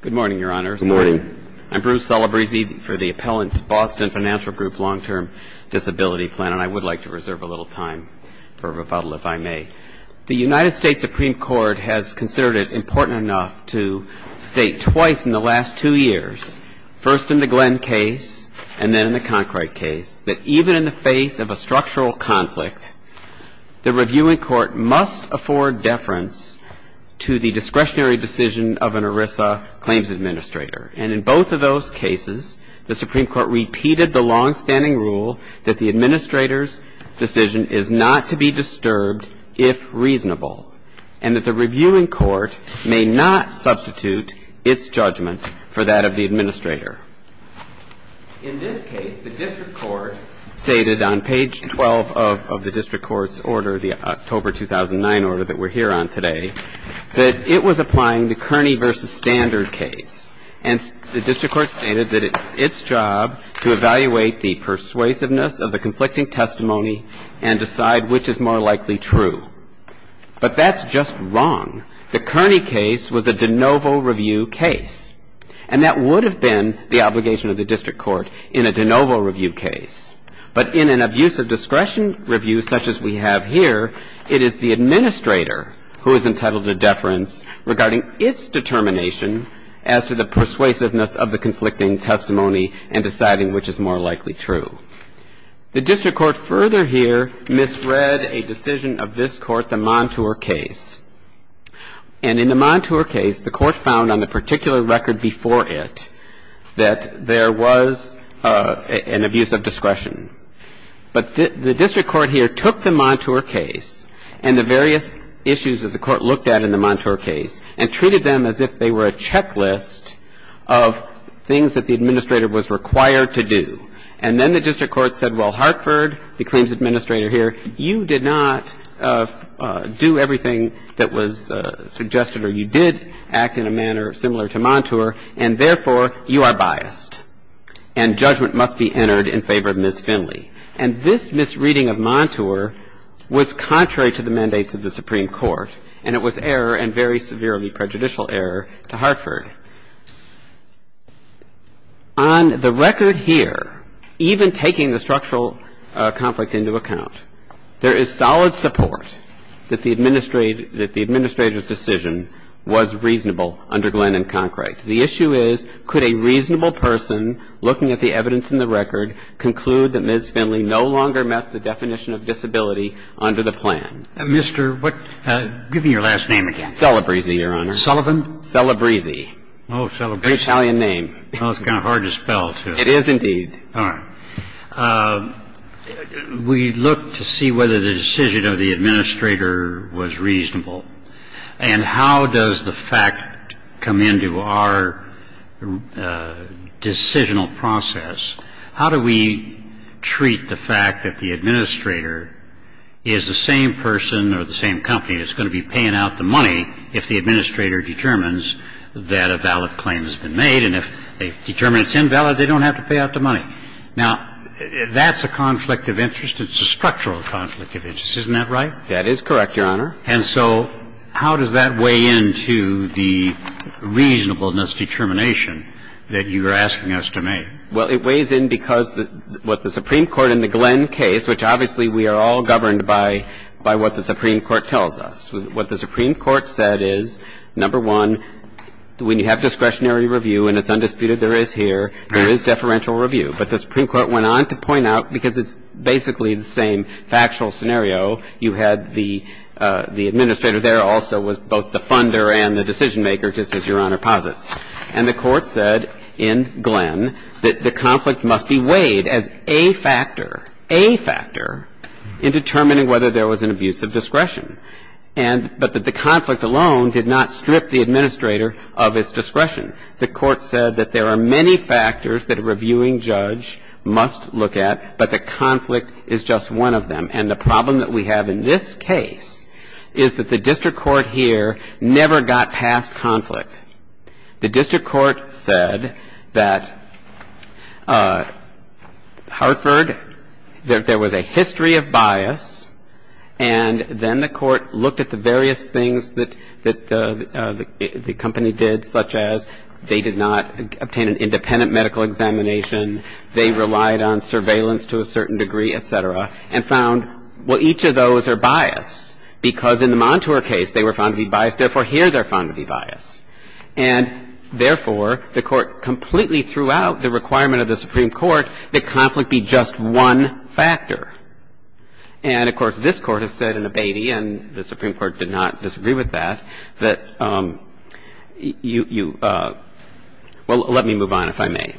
Good morning, Your Honor. I'm Bruce Salabrisi for the Appellant's Boston Financial Group Long-Term Disability Plan, and I would like to reserve a little time for rebuttal if I may. The United States Supreme Court has considered it important enough to state twice in the last two years, first in the Glenn case and then in the Concright case, that even in the face of a structural conflict, the review in court must afford deference to the discretionary decision of an ERISA claims administrator. And in both of those cases, the Supreme Court repeated the longstanding rule that the administrator's decision is not to be disturbed if reasonable, and that the review in court may not substitute its judgment for that of the administrator. In this case, the district court stated on page 12 of the district court's order, the October 2009 order that we're here on today, that it was applying the Kearney v. Standard case. And the district court stated that it's its job to evaluate the persuasiveness of the conflicting testimony and decide which is more likely true. But that's just wrong. The Kearney case was a de novo review case, and that would have been the obligation of the district court in a de novo review case. But in an abuse of discretion review such as we have here, it is the administrator who is entitled to deference regarding its determination as to the persuasiveness of the conflicting testimony and deciding which is more likely true. The district court further here misread a decision of this court, the Montour case. And in the Montour case, the court found on the particular record before it that there was an abuse of discretion. But the district court here took the Montour case and the various issues that the court looked at in the Montour case and treated them as if they were a checklist of things that the administrator was required to do. And then the district court said, well, Hartford, the claims administrator here, you did not do everything that was suggested or you did act in a manner similar to Montour, and therefore, you are biased. And judgment must be entered in favor of Ms. Finley. And this misreading of Montour was contrary to the mandates of the Supreme Court, and it was error and very severely prejudicial error to Hartford. On the record here, even taking the structural conflict into account, there is solid support that the administrator's decision was reasonable under Glenn and Concrete. The issue is, could a reasonable person looking at the evidence in the record conclude that Ms. Finley no longer met the definition of disability under the plan? Mr. what – give me your last name again. Celebrezze, Your Honor. Sullivan? Celebrezze. Oh, Celebrezze. It's an Italian name. Well, it's kind of hard to spell, too. It is, indeed. All right. We looked to see whether the decision of the administrator was reasonable, and how does the fact come into our decisional process? How do we treat the fact that the administrator is the same person or the same company that's going to be paying out the money if the administrator determines that a valid claim has been made, and if they determine it's invalid, they don't have to pay out the money? Now, that's a conflict of interest. It's a structural conflict of interest. Isn't that right? That is correct, Your Honor. And so how does that weigh into the reasonableness determination that you are asking us to make? Well, it weighs in because what the Supreme Court in the Glenn case, which obviously we are all governed by what the Supreme Court tells us, what the Supreme Court said is, number one, when you have discretionary review and it's undisputed there is here, there is deferential review. But the Supreme Court went on to point out, because it's basically the same factual scenario, you had the administrator there also was both the funder and the decision And the court said in Glenn that the conflict must be weighed as a factor, a factor, in determining whether there was an abuse of discretion, but that the conflict alone did not strip the administrator of its discretion. The court said that there are many factors that a reviewing judge must look at, but the conflict is just one of them. And the problem that we have in this case is that the district court here never got past conflict. The district court said that Hartford, there was a history of bias, and then the court looked at the various things that the company did, such as they did not obtain an independent medical examination, they relied on surveillance to a certain degree, et cetera, and found well, each of those are bias. Because in the Montour case, they were found to be biased. Therefore, here they're found to be biased. And therefore, the court completely threw out the requirement of the Supreme Court that conflict be just one factor. And, of course, this Court has said in Abatey, and the Supreme Court did not disagree with that, that you – well, let me move on, if I may.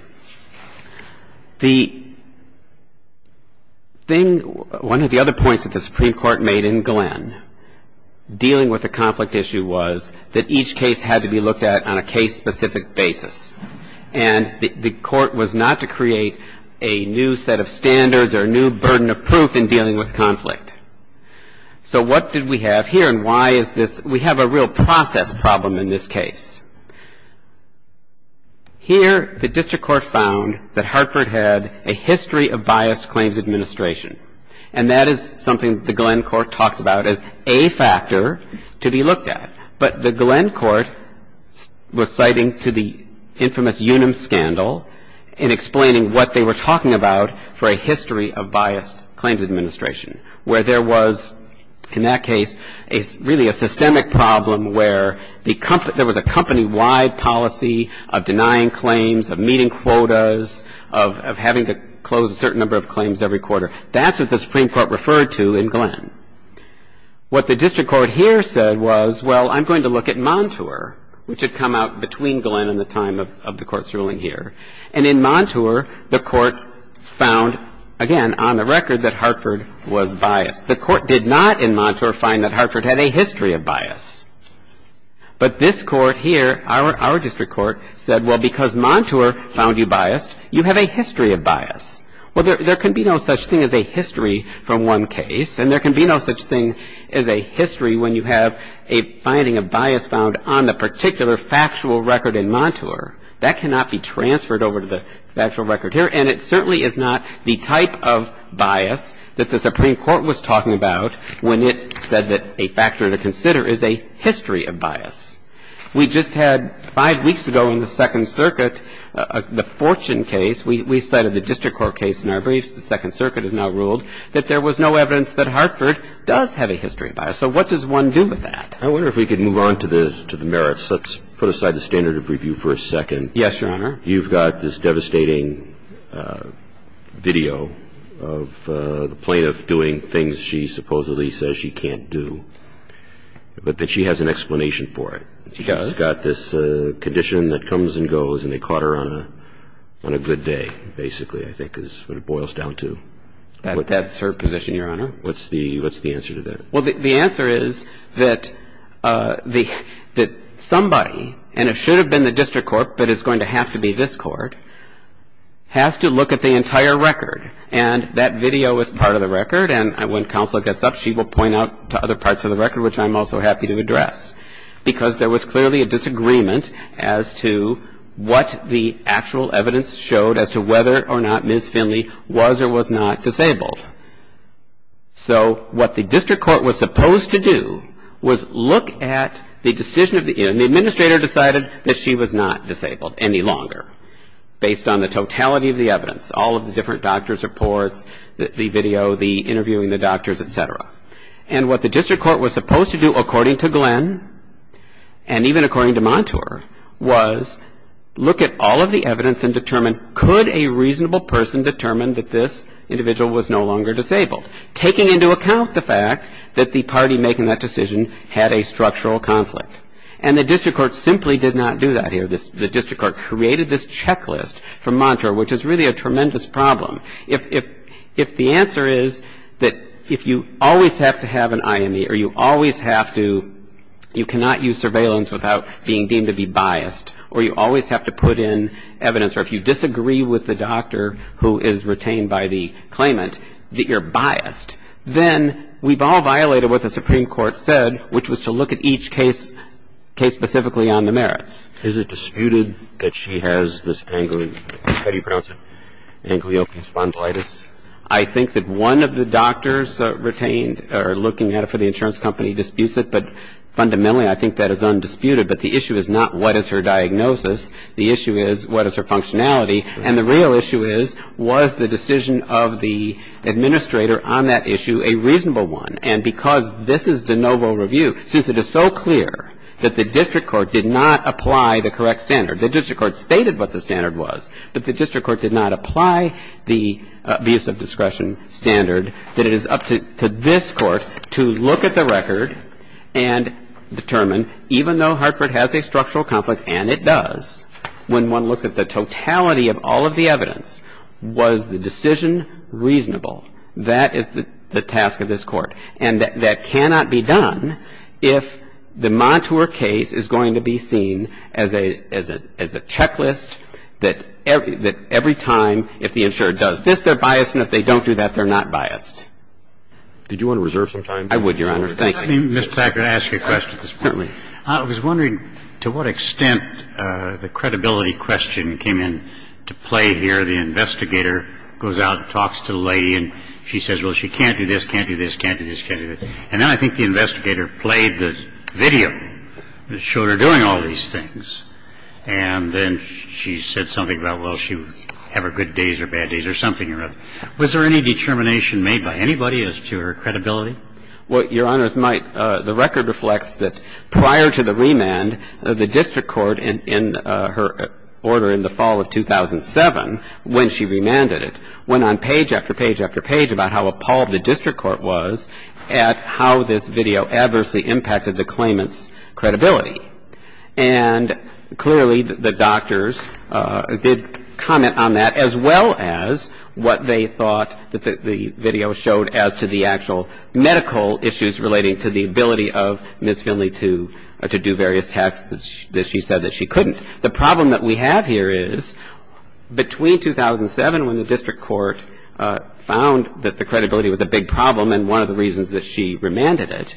The thing – one of the other points that the Supreme Court made in Glenn was that dealing with a conflict issue was that each case had to be looked at on a case-specific basis. And the court was not to create a new set of standards or a new burden of proof in dealing with conflict. So what did we have here, and why is this – we have a real process problem in this case. Here, the district court found that Hartford had a history of biased claims administration. And that is something the Glenn court talked about as a factor to be looked at. But the Glenn court was citing to the infamous Unum scandal and explaining what they were talking about for a history of biased claims administration, where there was, in that case, really a systemic problem where there was a company-wide policy of denying claims, of referred to in Glenn. What the district court here said was, well, I'm going to look at Montour, which had come out between Glenn and the time of the court's ruling here. And in Montour, the court found, again, on the record, that Hartford was biased. The court did not, in Montour, find that Hartford had a history of bias. But this court here, our district court, said, well, because Montour found you biased, you have a history of bias. Well, there can be no such thing as a history from one case, and there can be no such thing as a history when you have a finding of bias found on the particular factual record in Montour. That cannot be transferred over to the factual record here, and it certainly is not the type of bias that the Supreme Court was talking about when it said that a factor to consider is a history of bias. We just had, five weeks ago in the Second Circuit, the Fortune case. We cited the district court case in our briefs. The Second Circuit has now ruled that there was no evidence that Hartford does have a history of bias. So what does one do with that? I wonder if we could move on to the merits. Let's put aside the standard of review for a second. Yes, Your Honor. You've got this devastating video of the plaintiff doing things she supposedly says she can't do, but that she has an explanation for it. She does. She's got this condition that comes and goes, and they caught her on a good day, basically, I think, is what it boils down to. That's her position, Your Honor. What's the answer to that? Well, the answer is that somebody, and it should have been the district court, but it's going to have to be this court, has to look at the entire record. And that video is part of the record, and when counsel gets up, she will point out to other as to what the actual evidence showed as to whether or not Ms. Finley was or was not disabled. So what the district court was supposed to do was look at the decision of the administrator decided that she was not disabled any longer, based on the totality of the evidence, all of the different doctor's reports, the video, the interviewing the doctors, et cetera. And what the district court was supposed to do, according to Glenn, and even according to Montour, was look at all of the evidence and determine could a reasonable person determine that this individual was no longer disabled, taking into account the fact that the party making that decision had a structural conflict. And the district court simply did not do that here. The district court created this checklist for Montour, which is really a tremendous problem. If the answer is that if you always have to have an IME, or you always have to you cannot use surveillance without being deemed to be biased, or you always have to put in evidence, or if you disagree with the doctor who is retained by the claimant that you're biased, then we've all violated what the Supreme Court said, which was to look at each case, case specifically on the merits. Is it disputed that she has this angry ‑‑ how do you pronounce it? Angliopathy spondylitis? I think that one of the doctors retained or looking at it for the insurance company disputes it, but fundamentally I think that is undisputed. But the issue is not what is her diagnosis. The issue is what is her functionality. And the real issue is was the decision of the administrator on that issue a reasonable one. And because this is de novo review, since it is so clear that the district court did not apply the correct standard, the district court stated what the standard was, but the district court did not apply the abuse of discretion standard, that it is up to this Court to look at the record and determine, even though Hartford has a structural conflict, and it does, when one looks at the totality of all of the evidence, was the decision reasonable. That is the task of this Court. And that cannot be done if the Montour case is going to be seen as a ‑‑ as a checklist that every time, if the insurer does this, they're biased, and if they don't do that, they're not biased. Did you want to reserve some time? I would, Your Honor. Thank you. Let me, Mr. Packard, ask you a question. Certainly. I was wondering to what extent the credibility question came into play here. I think it was in the video where the investigator goes out and talks to the lady and she says, well, she can't do this, can't do this, can't do this, can't do this. And then I think the investigator played the video that showed her doing all these things, and then she said something about, well, she would have her good days or bad days or something, or whatever. Was there any determination made by anybody as to her credibility? Well, Your Honor, the record reflects that prior to the remand, the district court in her order in the fall of 2007, when she remanded it, went on page after page after page about how appalled the district court was at how this video adversely impacted the claimant's credibility. And clearly, the doctors did comment on that, as well as what they thought the video showed as to the actual medical issues relating to the ability of Ms. Finley to do various The problem that we have here is, between 2007, when the district court found that the credibility was a big problem and one of the reasons that she remanded it,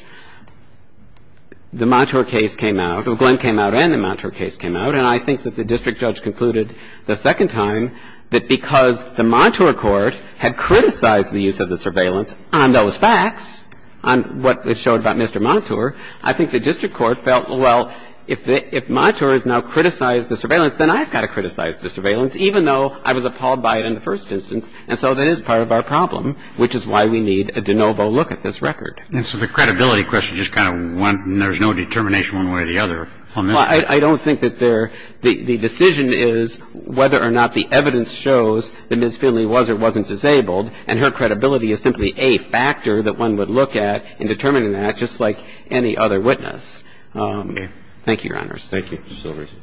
the Montour case came out, Glenn came out, and the Montour case came out, and I think that the district judge concluded the second time that because the Montour court had criticized the use of the surveillance on those facts, on what it showed about Mr. Montour, I think the district court felt, well, if Montour has now criticized the surveillance, then I've got to criticize the surveillance, even though I was appalled by it in the first instance, and so that is part of our problem, which is why we need a de novo look at this record. And so the credibility question is kind of one, and there's no determination one way or the other on this? Well, I don't think that there the decision is whether or not the evidence shows that Ms. Finley was or wasn't disabled, and her credibility is simply a factor that one would look at in determining that, just like any other witness. Thank you, Your Honors. Thank you, Justice Alito.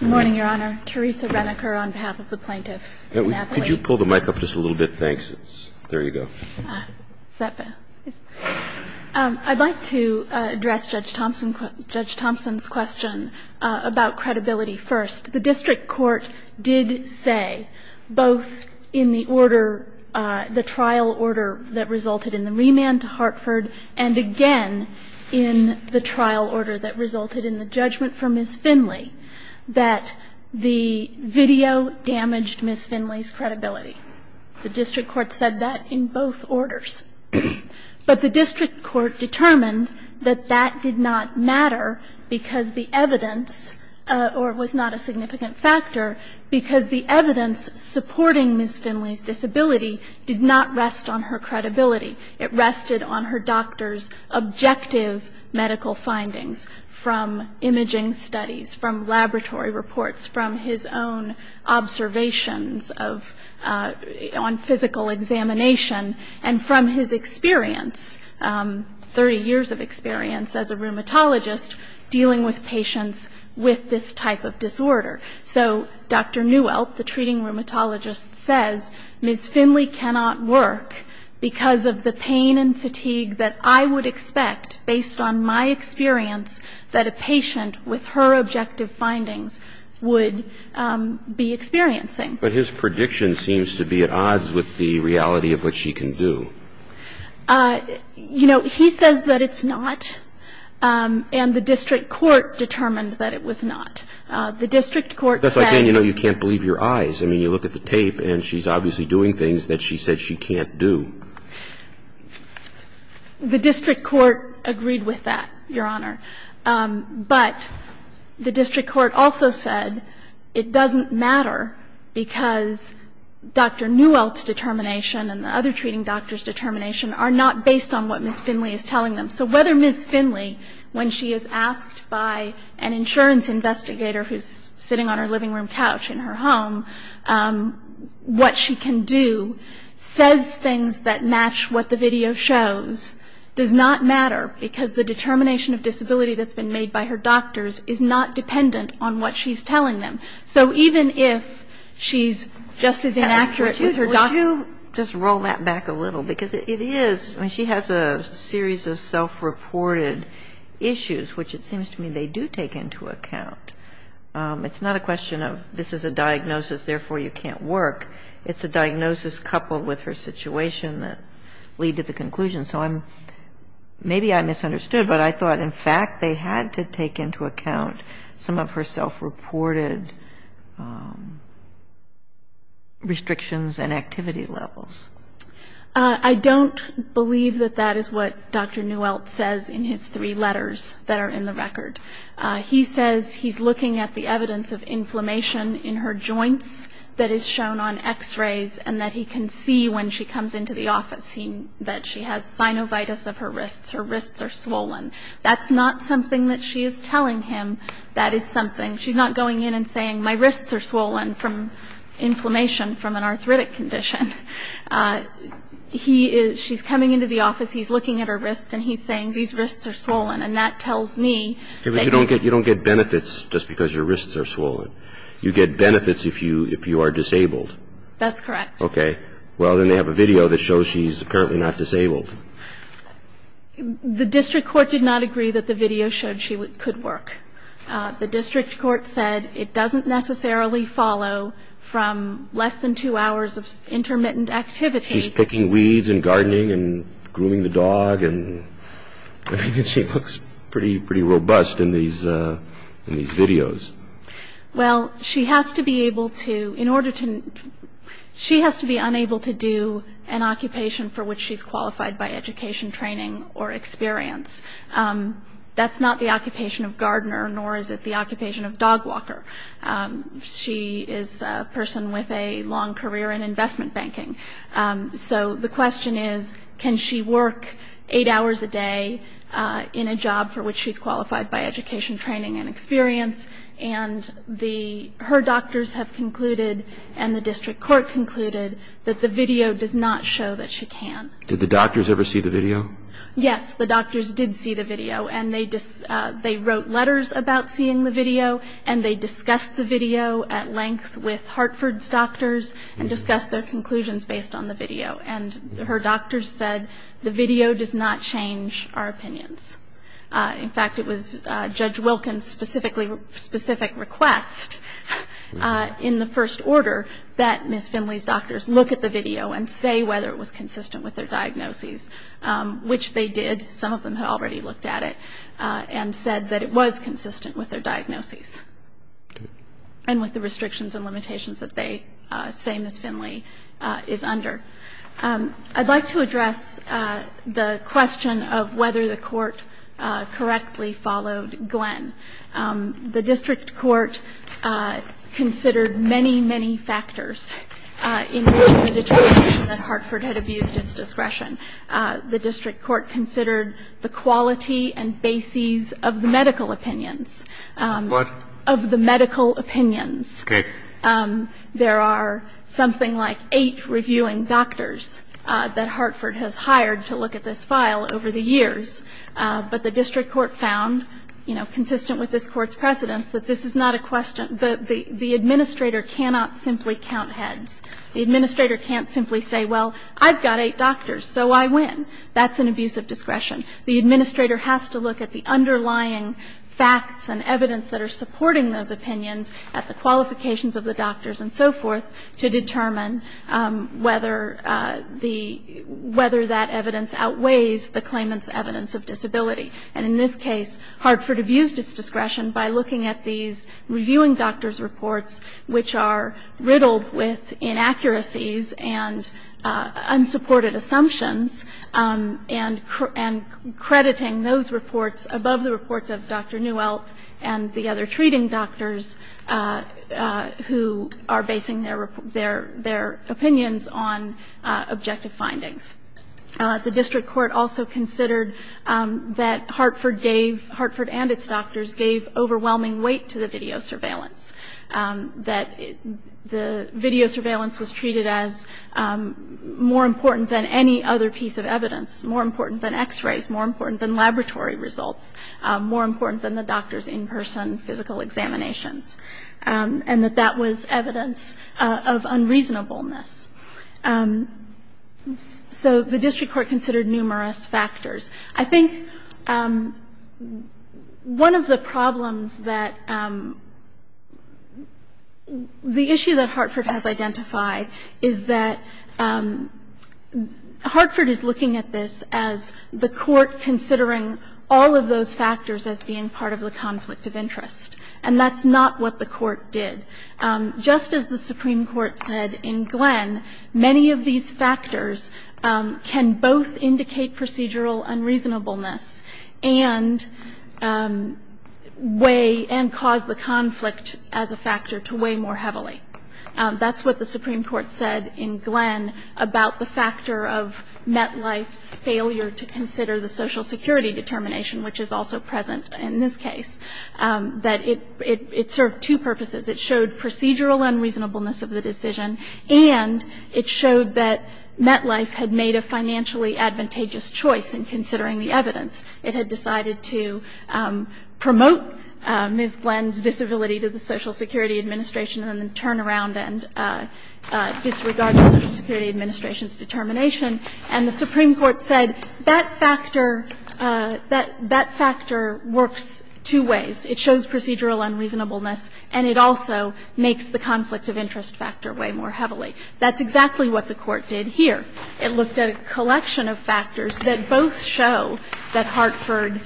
Good morning, Your Honor. Teresa Reniker on behalf of the plaintiff. Could you pull the mic up just a little bit? Thanks. There you go. I'd like to address Judge Thompson's question about credibility first. The district court did say, both in the order, the trial order that resulted in the remand to Hartford, and again in the trial order that resulted in the judgment for Ms. Finley, that the video damaged Ms. Finley's credibility. The district court said that in both orders. But the district court determined that that did not matter because the evidence was not a significant factor, because the evidence supporting Ms. Finley's disability did not rest on her credibility. It rested on her doctor's objective medical findings from imaging studies, from laboratory reports, from his own observations on physical examination, and from his experience, 30 years of experience as a rheumatologist, dealing with patients with this type of disorder. So Dr. Neuwelt, the treating rheumatologist, says, Ms. Finley cannot work because of the pain and fatigue that I would expect, based on my experience, that a patient with her objective findings would be experiencing. But his prediction seems to be at odds with the reality of what she can do. You know, he says that it's not, and the district court determined that it was not. The district court said. That's like saying, you know, you can't believe your eyes. I mean, you look at the tape, and she's obviously doing things that she said she can't do. The district court agreed with that, Your Honor. But the district court also said it doesn't matter because Dr. Neuwelt's determination and the other treating doctors' determination are not based on what Ms. Finley is telling them. So whether Ms. Finley, when she is asked by an insurance investigator, who's sitting on her living room couch in her home, what she can do, says things that match what the video shows, does not matter, because the determination of disability that's been made by her doctors is not dependent on what she's telling them. So even if she's just as inaccurate with her doctors. Kagan, would you just roll that back a little? Because it is, I mean, she has a series of self-reported issues, which it seems to me they do take into account. It's not a question of this is a diagnosis, therefore you can't work. It's a diagnosis coupled with her situation that lead to the conclusion. So I'm, maybe I misunderstood, but I thought, in fact, they had to take into account some of her self-reported restrictions and activity levels. I don't believe that that is what Dr. Neuwelt says in his three letters that are in the record. He says he's looking at the evidence of inflammation in her joints that is shown on x-rays and that he can see when she comes into the office that she has synovitis of her wrists. Her wrists are swollen. That's not something that she is telling him that is something. She's not going in and saying my wrists are swollen from inflammation from an arthritic condition. He is, she's coming into the office, he's looking at her wrists, and he's saying these wrists are swollen. And that tells me. You don't get benefits just because your wrists are swollen. You get benefits if you are disabled. That's correct. Okay. Well, then they have a video that shows she's apparently not disabled. The district court did not agree that the video showed she could work. The district court said it doesn't necessarily follow from less than two hours of intermittent activity. She's picking weeds and gardening and grooming the dog, and she looks pretty robust in these videos. Well, she has to be able to, in order to, she has to be unable to do an occupation for which she's qualified by education, training, or experience. That's not the occupation of Gardner, nor is it the occupation of Dog Walker. She is a person with a long career in investment banking. So the question is, can she work eight hours a day in a job for which she's qualified by education, training, and experience? And her doctors have concluded, and the district court concluded, that the video does not show that she can. Did the doctors ever see the video? Yes, the doctors did see the video, and they wrote letters about seeing the video, and they discussed the video at length with Hartford's doctors and discussed their conclusions based on the video. And her doctors said the video does not change our opinions. In fact, it was Judge Wilkins' specific request in the first order that Ms. Finley's doctors look at the video and say whether it was consistent with their diagnoses, which they did. Some of them had already looked at it and said that it was consistent with their diagnoses and with the restrictions and limitations that they say Ms. Finley is under. I'd like to address the question of whether the court correctly followed Glenn. The district court considered many, many factors in the determination that Hartford had abused its discretion. The district court considered the quality and bases of the medical opinions. What? Of the medical opinions. Okay. There are something like eight reviewing doctors that Hartford has hired to look at this file over the years. But the district court found, you know, consistent with this Court's precedence, that this is not a question that the administrator cannot simply count heads. The administrator can't simply say, well, I've got eight doctors, so I win. That's an abuse of discretion. The administrator has to look at the underlying facts and evidence that are supporting those opinions at the qualifications of the doctors and so forth to determine whether that evidence outweighs the claimant's evidence of disability. And in this case, Hartford abused its discretion by looking at these reviewing doctors' reports, which are riddled with inaccuracies and unsupported assumptions, and crediting those reports above the reports of Dr. Newelt and the other treating doctors who are basing their opinions on objective findings. The district court also considered that Hartford and its doctors gave overwhelming weight to the video surveillance, that the video surveillance was treated as more important than any other piece of evidence, more important than x-rays, more important than laboratory results, more important than the doctors' in-person physical examinations, and that that was evidence of unreasonableness. So the district court considered numerous factors. I think one of the problems that the issue that Hartford has identified is that Hartford is looking at this as the court considering all of those factors as being part of the conflict of interest, and that's not what the court did. Just as the Supreme Court said in Glenn, many of these factors can both indicate procedural unreasonableness and weigh and cause the conflict as a factor to weigh more heavily. That's what the Supreme Court said in Glenn about the factor of MetLife's failure to consider the social security determination, which is also present in this case, that it served two purposes. It showed procedural unreasonableness of the decision, and it showed that MetLife had made a financially advantageous choice in considering the evidence. It had decided to promote Ms. Glenn's disability to the Social Security Administration and then turn around and disregard the Social Security Administration's determination. And the Supreme Court said that factor works two ways. It shows procedural unreasonableness, and it also makes the conflict of interest factor weigh more heavily. That's exactly what the court did here. It looked at a collection of factors that both show that Hartford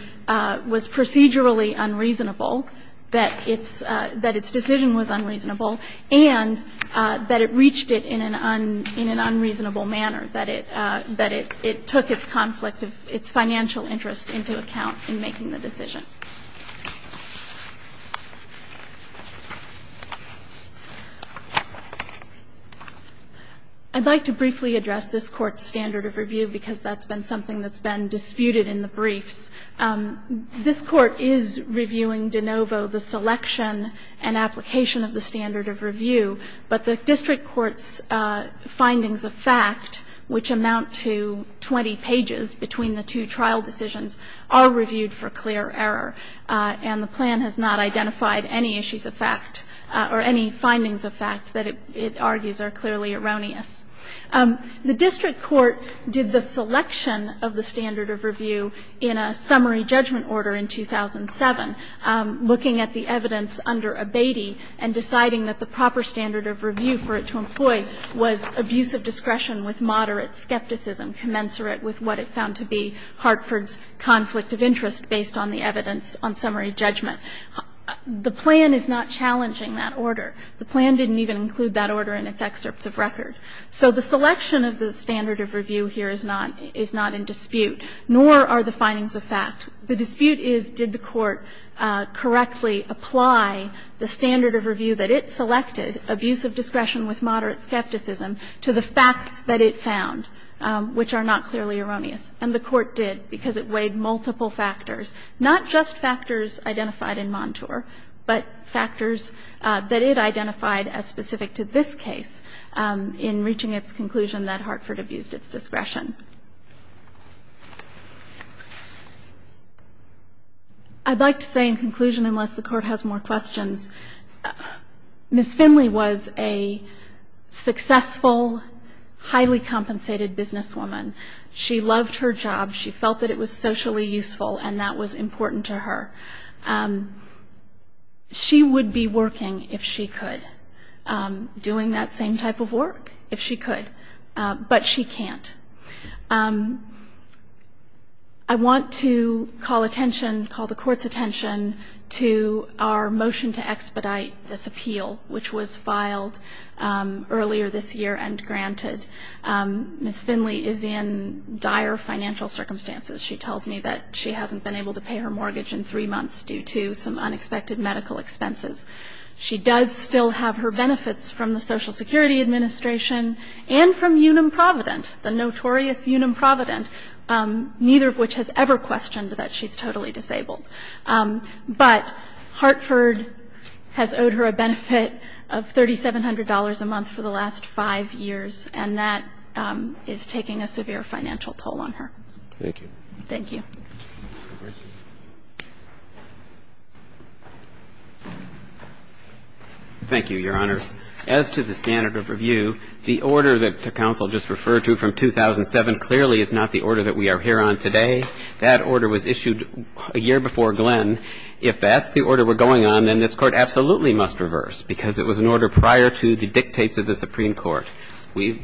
was procedurally unreasonable, that its decision was unreasonable, and that it reached it in an unreasonable manner, that it took its conflict of its financial interest into account in making the decision. I'd like to briefly address this Court's standard of review because that's been something that's been disputed in the briefs. This Court is reviewing de novo the selection and application of the standard of review, but the district court's findings of fact, which amount to 20 pages between the two trial decisions, are reviewed for clear error. And the plan has not identified any issues of fact, or any findings of fact that it argues are clearly erroneous. The district court did the selection of the standard of review in a summary judgment order in 2007, looking at the evidence under Abatey and deciding that the proper standard of review for it to employ was abusive discretion with moderate skepticism commensurate with what it found to be Hartford's conflict of interest based on the evidence on summary judgment. The plan is not challenging that order. The plan didn't even include that order in its excerpts of record. So the selection of the standard of review here is not in dispute, nor are the findings of fact. The dispute is, did the Court correctly apply the standard of review that it selected, abusive discretion with moderate skepticism, to the facts that it found, which are not clearly erroneous? And the Court did, because it weighed multiple factors, not just factors identified in Montour, but factors that it identified as specific to this case in reaching its conclusion that Hartford abused its discretion. I'd like to say in conclusion, unless the Court has more questions, Ms. Finley's case, Ms. Finley was a successful, highly compensated businesswoman. She loved her job. She felt that it was socially useful, and that was important to her. She would be working if she could, doing that same type of work, if she could, but she can't. I want to call attention, call the Court's attention, to our motion to expedite this appeal, which was filed earlier this year and granted. Ms. Finley is in dire financial circumstances. She tells me that she hasn't been able to pay her mortgage in three months due to some unexpected medical expenses. She does still have her benefits from the Social Security Administration and from Unum Provident, the notorious Unum Provident, neither of which has ever questioned that she's totally disabled. But Hartford has owed her a benefit of $3,700 a month for the last five years, and that is taking a severe financial toll on her. Thank you. Thank you. Thank you, Your Honors. As to the standard of review, the order that the counsel just referred to from 2007 clearly is not the order that we are here on today. That order was issued a year before Glenn. If that's the order we're going on, then this Court absolutely must reverse because it was an order prior to the dictates of the Supreme Court.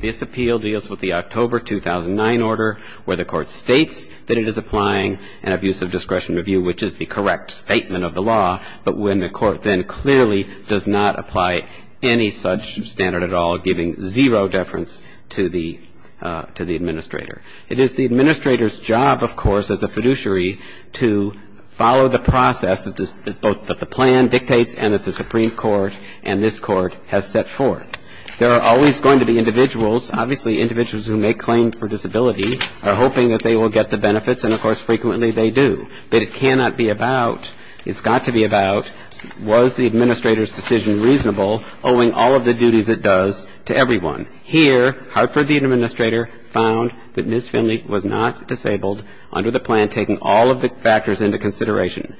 This appeal deals with the October 2009 order where the Court states that it is applying an abusive discretion review, which is the correct statement of the law, but when the Court then clearly does not apply any such standard at all, giving zero deference to the administrator. It is the administrator's job, of course, as a fiduciary, to follow the process that the plan dictates and that the Supreme Court and this Court has set forth. There are always going to be individuals, obviously individuals who make claims for disability, are hoping that they will get the benefits, and, of course, frequently they do. But it cannot be about, it's got to be about was the administrator's decision reasonable owing all of the duties it does to everyone. Here, Hartford, the administrator, found that Ms. Finley was not disabled under the plan taking all of the factors into consideration.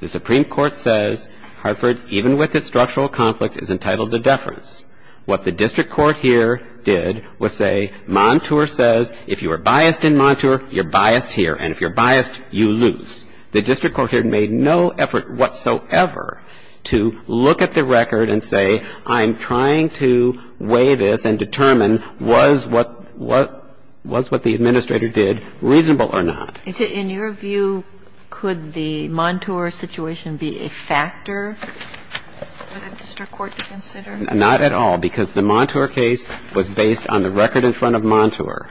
The Supreme Court says Hartford, even with its structural conflict, is entitled to deference. What the district court here did was say Montour says if you are biased in Montour, you're biased here, and if you're biased, you lose. The district court here made no effort whatsoever to look at the record and say I'm trying to weigh this and determine was what the administrator did reasonable or not. In your view, could the Montour situation be a factor for the district court to consider? Not at all, because the Montour case was based on the record in front of Montour.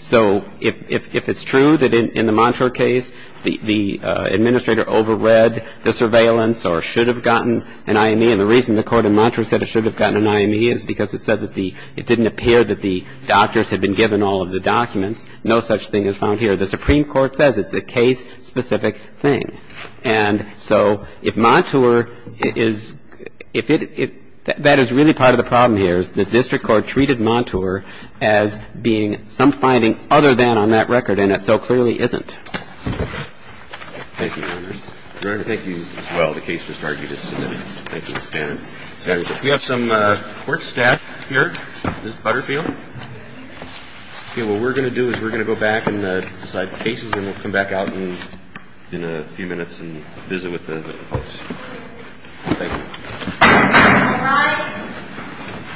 So if it's true that in the Montour case the administrator overread the surveillance or should have gotten an IME, and the reason the court in Montour said it should have gotten an IME is because it said that the — it didn't appear that the doctors had been given all of the documents. No such thing is found here. The Supreme Court says it's a case-specific thing. And so if Montour is — if it — that is really part of the problem here, is the district court treated Montour as being some finding other than on that record, and it so clearly isn't. Thank you, Your Honor. Your Honor, thank you as well. The case just argued as submitted. Thank you. We have some court staff here. This is Butterfield. Okay. What we're going to do is we're going to go back and decide the cases, and we'll come back out in a few minutes and visit with the folks. Thank you.